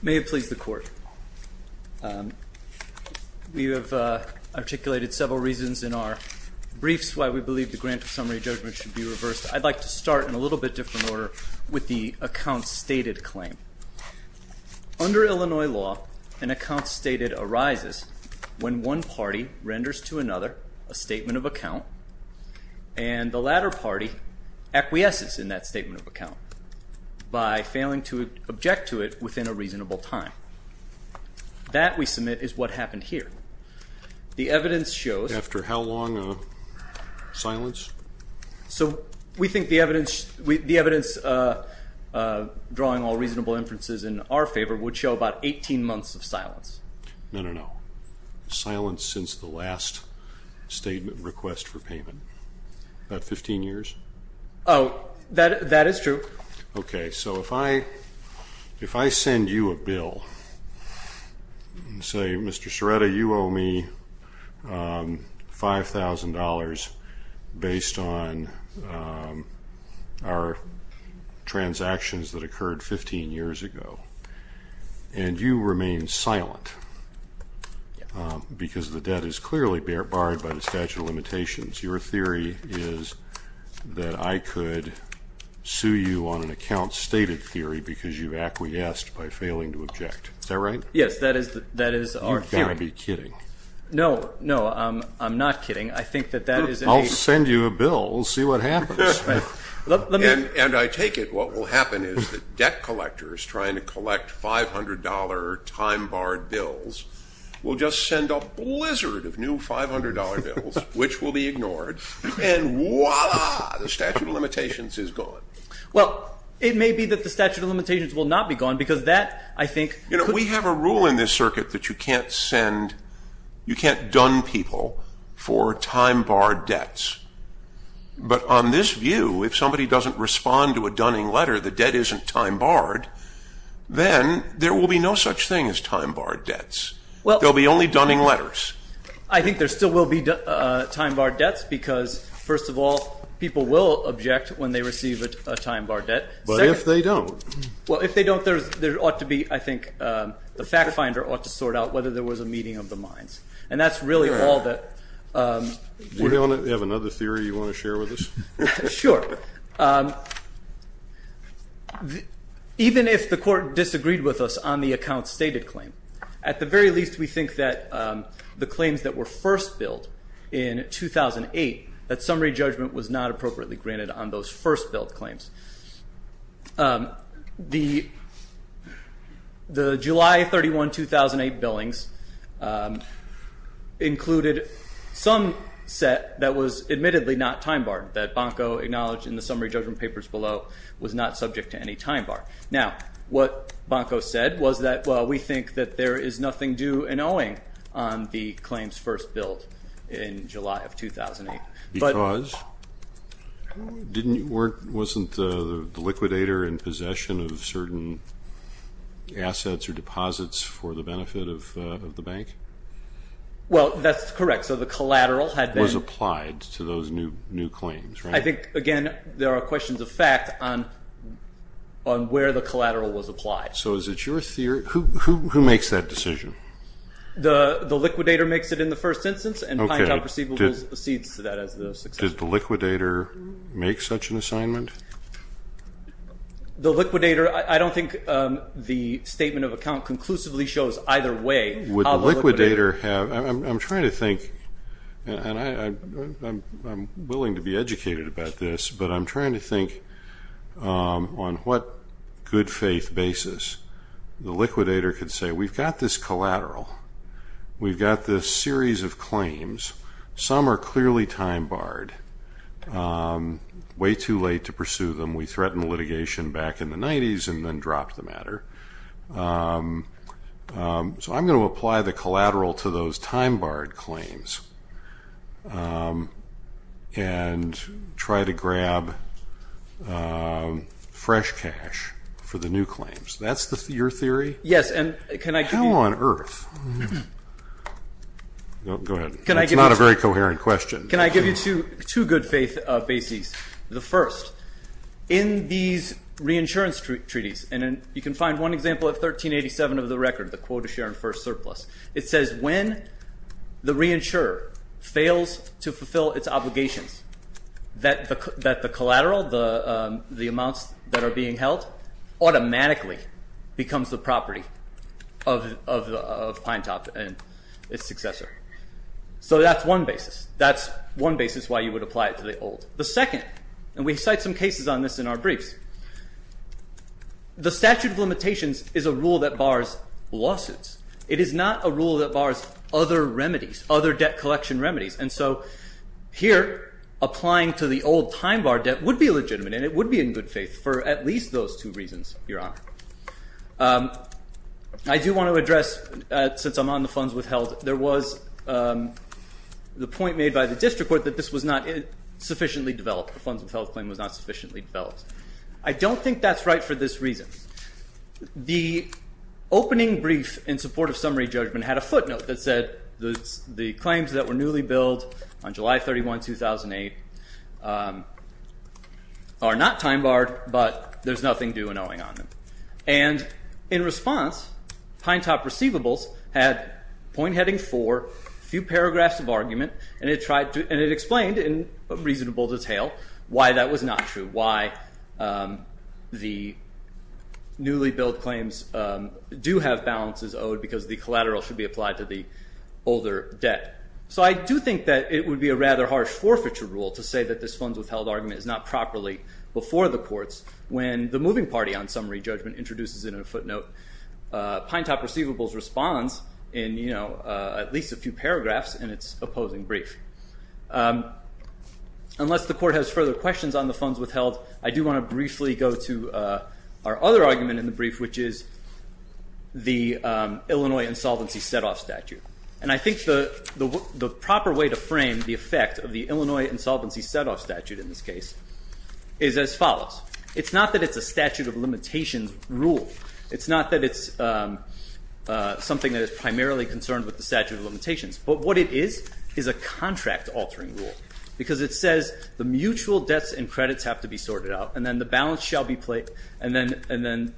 May it please the Court. We have articulated several reasons in our briefs why we believe the Grant of Summary Judgment should be reversed. I'd like to start in a little bit different order with the Accounts Stated claim. Under Illinois law, an Accounts Stated arises when one party renders to another a statement of account and the latter party acquiesces in that statement of account by failing to object to it within a reasonable time. That, we submit, is what happened here. The evidence shows... After how long of silence? So we think the evidence drawing all reasonable inferences in our favor would show about 18 months of silence. No, no, no. Silence since the last statement request for payment. About 15 years? Oh, that is true. Okay, so if I send you a bill and say, Mr. Sciretta, you owe me $5,000 based on our transactions that occurred 15 years ago, and you remain silent because the debt is clearly barred by the statute of limitations, your theory is that I could sue you on an Accounts Stated theory because you acquiesced by failing to object. Is that right? Yes, that is our theory. You've got to be kidding. No, no, I'm not kidding. I think that that is a... I'll send you a bill. We'll see what happens. And I take it what will happen is that debt collectors trying to collect $500 time-barred bills will just send a blizzard of new $500 bills, which will be ignored, and voila, the statute of limitations is gone. Well, it may be that the statute of limitations will not be gone because that, I think... You know, we have a rule in this circuit that you can't send... you can't dun people for time-barred debts. But on this view, if somebody doesn't respond to a dunning letter, the debt isn't time-barred, then there will be no such thing as time-barred debts. There will be only dunning letters. I think there still will be time-barred debts because, first of all, people will object when they receive a time-barred debt. But if they don't? Well, if they don't, there ought to be, I think, the fact finder ought to sort out whether there was a meeting of the minds. And that's really all that... Do you have another theory you want to share with us? Sure. Even if the court disagreed with us on the account-stated claim, at the very least we think that the claims that were first billed in 2008, that summary judgment was not appropriately granted on those first-billed claims. The July 31, 2008 billings included some set that was admittedly not time-barred, that Bonko acknowledged in the summary judgment papers below was not subject to any time-barred. Now, what Bonko said was that, well, we think that there is nothing due and owing on the claims first billed in July of 2008. Because? Wasn't the liquidator in possession of certain assets or deposits for the benefit of the bank? Well, that's correct. So the collateral was applied to those new claims, right? I think, again, there are questions of fact on where the collateral was applied. So is it your theory? Who makes that decision? The liquidator makes it in the first instance, and Pinetown Proceedables accedes to that as the successor. Does the liquidator make such an assignment? The liquidator, I don't think the statement of account conclusively shows either way. Would the liquidator have, I'm trying to think, and I'm willing to be educated about this, but I'm trying to think on what good faith basis the liquidator could say, we've got this collateral, we've got this series of claims. Some are clearly time-barred, way too late to pursue them. We threatened litigation back in the 90s and then dropped the matter. So I'm going to apply the collateral to those time-barred claims and try to grab fresh cash for the new claims. That's your theory? Yes, and can I give you? How on earth? Go ahead. It's not a very coherent question. Can I give you two good faith bases? The first, in these reinsurance treaties, and you can find one example at 1387 of the record, the quota share and first surplus. It says when the reinsurer fails to fulfill its obligations, that the collateral, the amounts that are being held, automatically becomes the property of Pinetop and its successor. So that's one basis. That's one basis why you would apply it to the old. The second, and we cite some cases on this in our briefs, the statute of limitations is a rule that bars lawsuits. It is not a rule that bars other remedies, other debt collection remedies. And so here, applying to the old time-barred debt would be legitimate, and it would be in good faith for at least those two reasons, Your Honor. I do want to address, since I'm on the funds withheld, there was the point made by the district court that this was not sufficiently developed. The funds withheld claim was not sufficiently developed. I don't think that's right for this reason. The opening brief in support of summary judgment had a footnote that said, the claims that were newly billed on July 31, 2008, are not time-barred, but there's nothing due and owing on them. And in response, Pinetop receivables had point heading four, few paragraphs of argument, and it explained in reasonable detail why that was not true, and why the newly billed claims do have balances owed because the collateral should be applied to the older debt. So I do think that it would be a rather harsh forfeiture rule to say that this funds withheld argument is not properly before the courts when the moving party on summary judgment introduces it in a footnote. Pinetop receivables responds in at least a few paragraphs in its opposing brief. Unless the court has further questions on the funds withheld, I do want to briefly go to our other argument in the brief, which is the Illinois insolvency set-off statute. And I think the proper way to frame the effect of the Illinois insolvency set-off statute in this case is as follows. It's not that it's a statute of limitations rule. It's not that it's something that is primarily concerned with the statute of limitations. But what it is is a contract altering rule because it says the mutual debts and credits have to be sorted out, and then the balance shall be paid, and then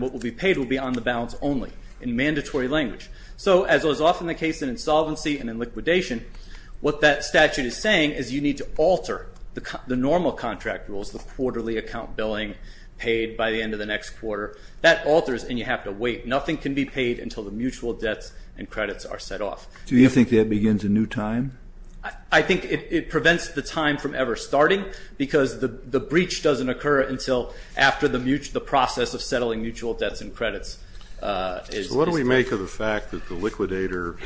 what will be paid will be on the balance only in mandatory language. So as was often the case in insolvency and in liquidation, what that statute is saying is you need to alter the normal contract rules, the quarterly account billing paid by the end of the next quarter. That alters, and you have to wait. Nothing can be paid until the mutual debts and credits are set off. Do you think that begins a new time? I think it prevents the time from ever starting, because the breach doesn't occur until after the process of settling mutual debts and credits is complete. So what do we make of the fact that the liquidator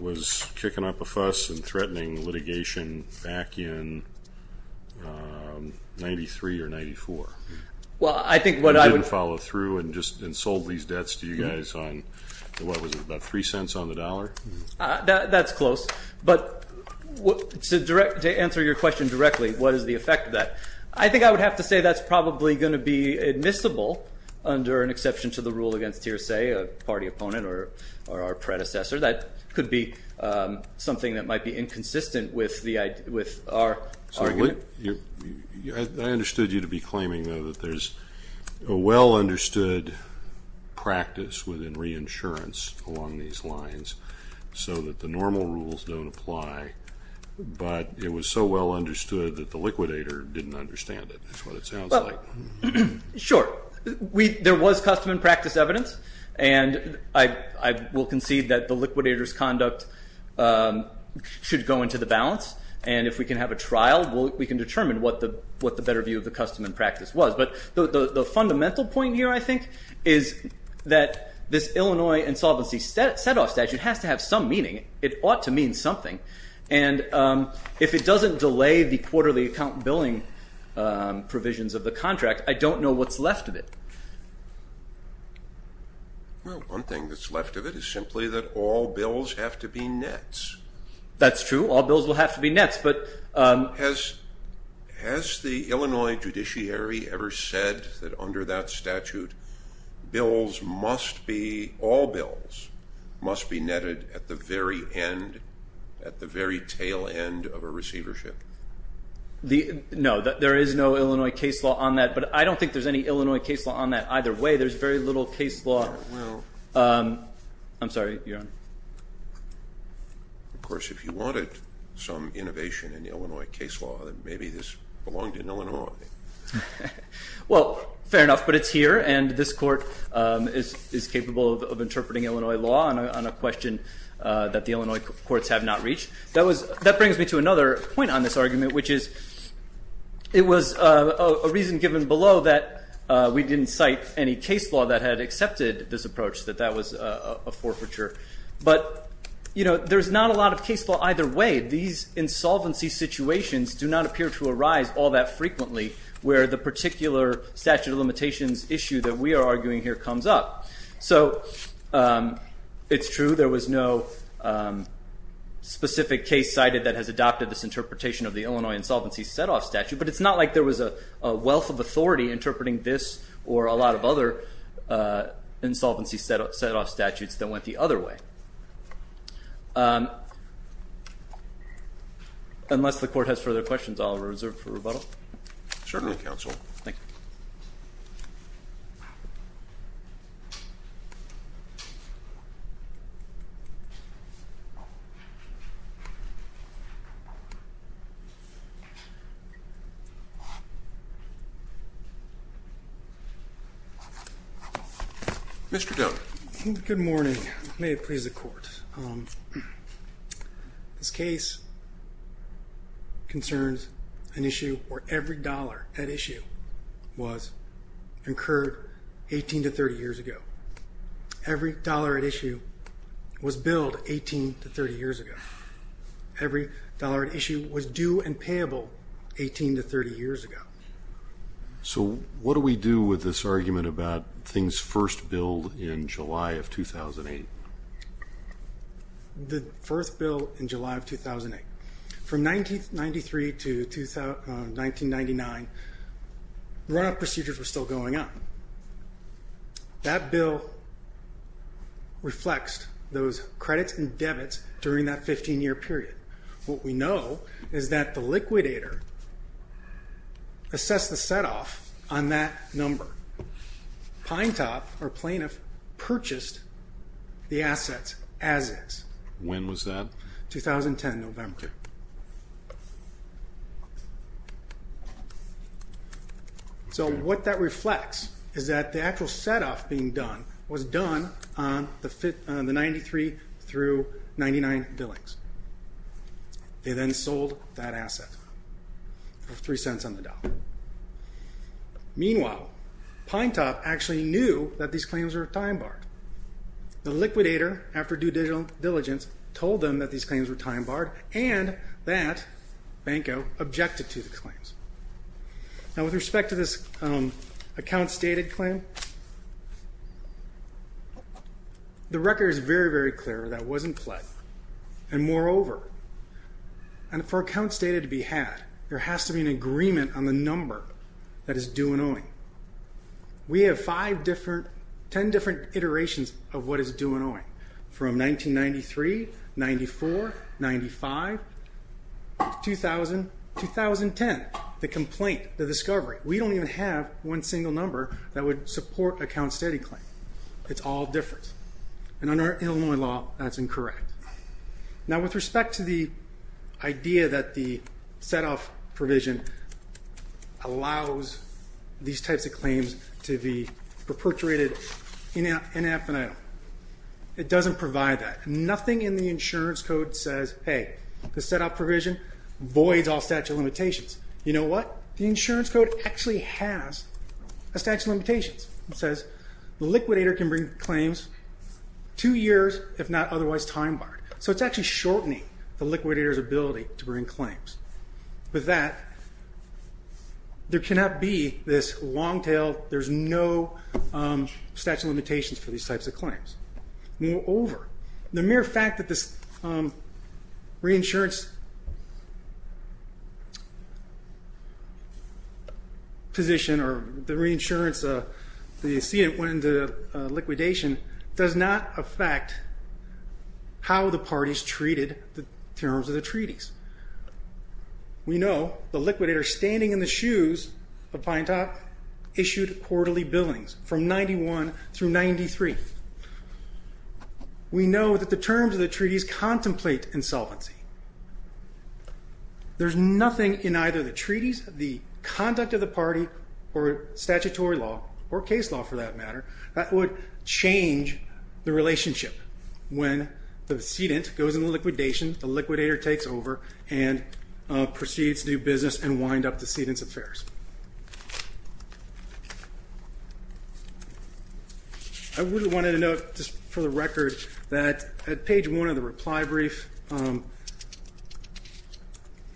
was kicking up a fuss and threatening litigation back in 93 or 94? You didn't follow through and just sold these debts to you guys on, what was it, about 3 cents on the dollar? That's close. But to answer your question directly, what is the effect of that? I think I would have to say that's probably going to be admissible under an exception to the rule against, say, a party opponent or our predecessor. That could be something that might be inconsistent with our idea. I understood you to be claiming, though, that there's a well-understood practice within reinsurance along these lines so that the normal rules don't apply, but it was so well understood that the liquidator didn't understand it. That's what it sounds like. Sure. There was custom and practice evidence, and I will concede that the liquidator's conduct should go into the balance. And if we can have a trial, we can determine what the better view of the custom and practice was. But the fundamental point here, I think, is that this Illinois insolvency set-off statute has to have some meaning. It ought to mean something. And if it doesn't delay the quarterly account billing provisions of the contract, I don't know what's left of it. Well, one thing that's left of it is simply that all bills have to be nets. That's true. All bills will have to be nets. Has the Illinois judiciary ever said that under that statute, all bills must be netted at the very tail end of a receivership? No. There is no Illinois case law on that, but I don't think there's any Illinois case law on that either way. There's very little case law. I'm sorry. You're on. Of course, if you wanted some innovation in Illinois case law, then maybe this belonged in Illinois. Well, fair enough, but it's here, and this court is capable of interpreting Illinois law on a question that the Illinois courts have not reached. That brings me to another point on this argument, which is it was a reason given below that we didn't cite any case law that had accepted this approach, that that was a forfeiture. But there's not a lot of case law either way. These insolvency situations do not appear to arise all that frequently where the particular statute of limitations issue that we are arguing here comes up. So it's true there was no specific case cited that has adopted this interpretation of the Illinois insolvency set-off statute, but it's not like there was a wealth of authority interpreting this or a lot of other insolvency set-off statutes that went the other way. Unless the court has further questions, I'll reserve for rebuttal. Certainly, counsel. Thank you. Mr. Doan. Good morning. May it please the court. This case concerns an issue where every dollar at issue was incurred 18 to 30 years ago. Every dollar at issue was billed 18 to 30 years ago. Every dollar at issue was due and payable 18 to 30 years ago. So what do we do with this argument about things first billed in July of 2008? The first bill in July of 2008. From 1993 to 1999, runoff procedures were still going on. That bill reflects those credits and debits during that 15-year period. What we know is that the liquidator assessed the set-off on that number. Pinetop, our plaintiff, purchased the assets as is. When was that? 2010, November. Thank you. So what that reflects is that the actual set-off being done was done on the 93 through 99 billings. They then sold that asset for $0.03 on the dollar. Meanwhile, Pinetop actually knew that these claims were time-barred. The liquidator, after due diligence, told them that these claims were time-barred and that Banco objected to the claims. Now with respect to this accounts dated claim, the record is very, very clear that it wasn't pled. And moreover, for accounts dated to be had, there has to be an agreement on the number that is due and owing. We have five different, ten different iterations of what is due and owing. From 1993, 94, 95, 2000, 2010. The complaint, the discovery. We don't even have one single number that would support accounts dated claim. It's all different. And under Illinois law, that's incorrect. Now with respect to the idea that the set-off provision allows these types of claims to be perpetuated in an infinitum, it doesn't provide that. Nothing in the insurance code says, hey, the set-off provision voids all statute of limitations. You know what? The insurance code actually has a statute of limitations. It says the liquidator can bring claims two years if not otherwise time barred. So it's actually shortening the liquidator's ability to bring claims. With that, there cannot be this long tail, there's no statute of limitations for these types of claims. Moreover, the mere fact that this reinsurance position or the reinsurance, you see it when the liquidation, does not affect how the parties treated the terms of the treaties. We know the liquidator standing in the shoes of Pintop issued quarterly billings from 91 through 93. We know that the terms of the treaties contemplate insolvency. There's nothing in either the treaties, the conduct of the party, or statutory law, or case law for that matter, that would change the relationship. When the sedent goes into liquidation, the liquidator takes over and proceeds to do business and wind up the sedent's affairs. I really wanted to note, just for the record, that at page one of the reply brief,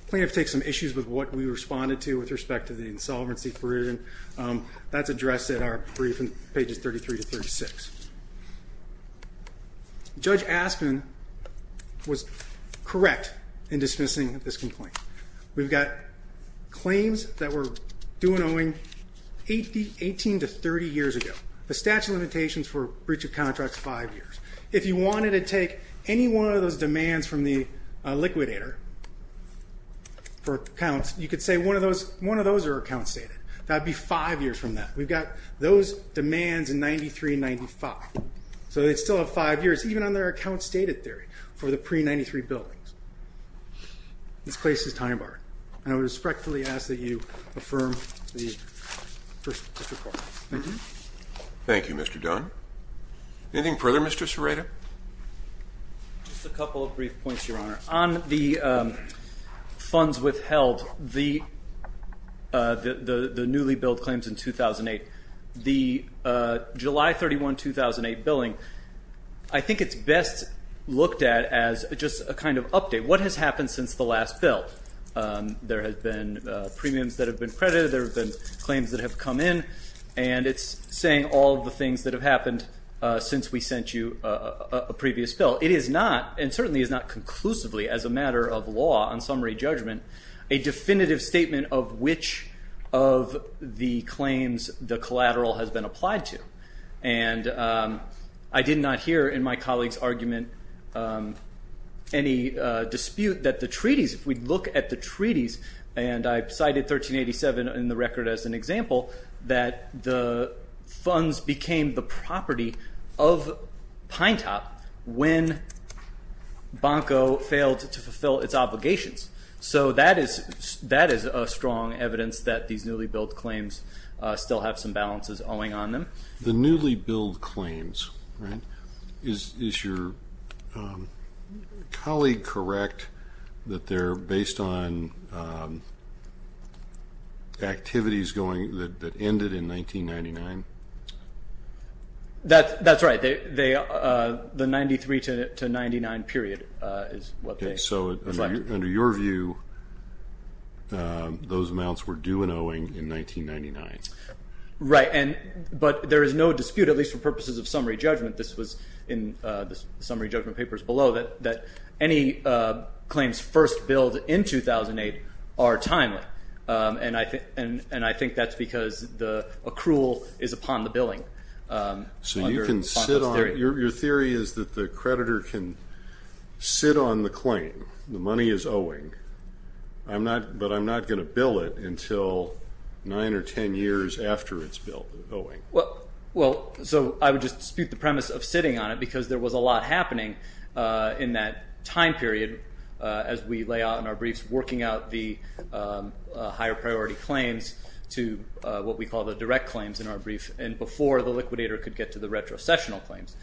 plaintiff takes some issues with what we responded to with respect to the insolvency provision. That's addressed at our brief in pages 33 to 36. Judge Aspen was correct in dismissing this complaint. We've got claims that were due and owing 18 to 30 years ago. The statute of limitations for breach of contracts, five years. If you wanted to take any one of those demands from the liquidator for accounts, you could say one of those are account stated. That would be five years from that. We've got those demands in 93 and 95. So they'd still have five years, even on their account stated theory, for the pre-93 billings. This place is time barred. And I respectfully ask that you affirm the first report. Thank you. Thank you, Mr. Dunn. Anything further, Mr. Serrato? Just a couple of brief points, Your Honor. On the funds withheld, the newly billed claims in 2008, the July 31, 2008 billing, I think it's best looked at as just a kind of update. What has happened since the last bill? There have been premiums that have been credited. There have been claims that have come in. And it's saying all of the things that have happened since we sent you a previous bill. It is not, and certainly is not conclusively as a matter of law on summary judgment, a definitive statement of which of the claims the collateral has been applied to. And I did not hear in my colleague's argument any dispute that the treaties, if we look at the treaties, and I cited 1387 in the record as an example, that the funds became the property of Pinetop when Bonko failed to fulfill its obligations. So that is a strong evidence that these newly billed claims still have some balances owing on them. The newly billed claims, right? Is your colleague correct that they're based on activities that ended in 1999? That's right. The 93 to 99 period is what they claim. So under your view, those amounts were due and owing in 1999. Right. But there is no dispute, at least for purposes of summary judgment, this was in the summary judgment papers below, that any claims first billed in 2008 are timely. And I think that's because the accrual is upon the billing. So your theory is that the creditor can sit on the claim, the money is owing, but I'm not going to bill it until nine or ten years after it's owing. Well, so I would just dispute the premise of sitting on it, because there was a lot happening in that time period as we lay out in our briefs, working out the higher priority claims to what we call the direct claims in our brief, and before the liquidator could get to the retrocessional claims.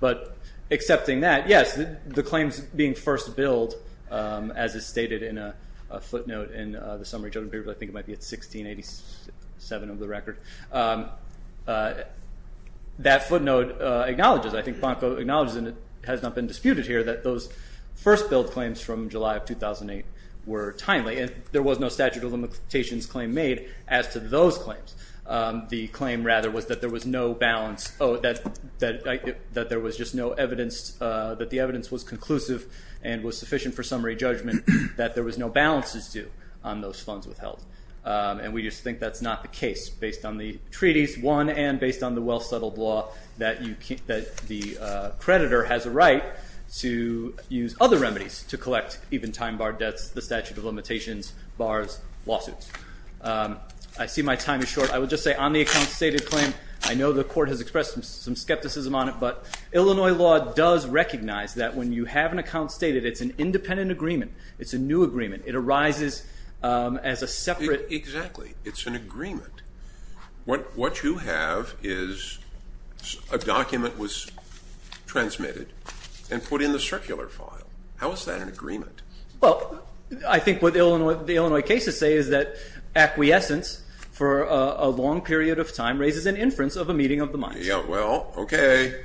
But accepting that, yes, the claims being first billed, as is stated in a footnote in the summary judgment papers, I think it might be at 1687 of the record, that footnote acknowledges, I think Bonko acknowledges, and it has not been disputed here, that those first billed claims from July of 2008 were timely, and there was no statute of limitations claim made as to those claims. The claim, rather, was that there was just no evidence, that the evidence was conclusive and was sufficient for summary judgment, that there was no balances due on those funds withheld. And we just think that's not the case based on the treaties, one, and based on the well-settled law that the creditor has a right to use other remedies to collect even time-barred debts, the statute of limitations, bars, lawsuits. I see my time is short. I would just say on the account-stated claim, I know the court has expressed some skepticism on it, but Illinois law does recognize that when you have an account-stated, it's an independent agreement. It's a new agreement. It arises as a separate… Exactly. It's an agreement. What you have is a document was transmitted and put in the circular file. How is that an agreement? Well, I think what the Illinois cases say is that acquiescence for a long period of time raises an inference of a meeting of the minds. Yeah. Well, okay.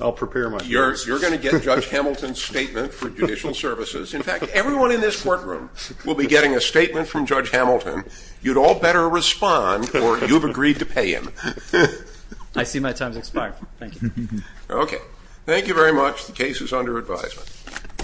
I'll prepare myself. You're going to get Judge Hamilton's statement for judicial services. In fact, everyone in this courtroom will be getting a statement from Judge Hamilton. You'd all better respond or you've agreed to pay him. I see my time has expired. Thank you. Okay. Thank you very much. The case is under advisement.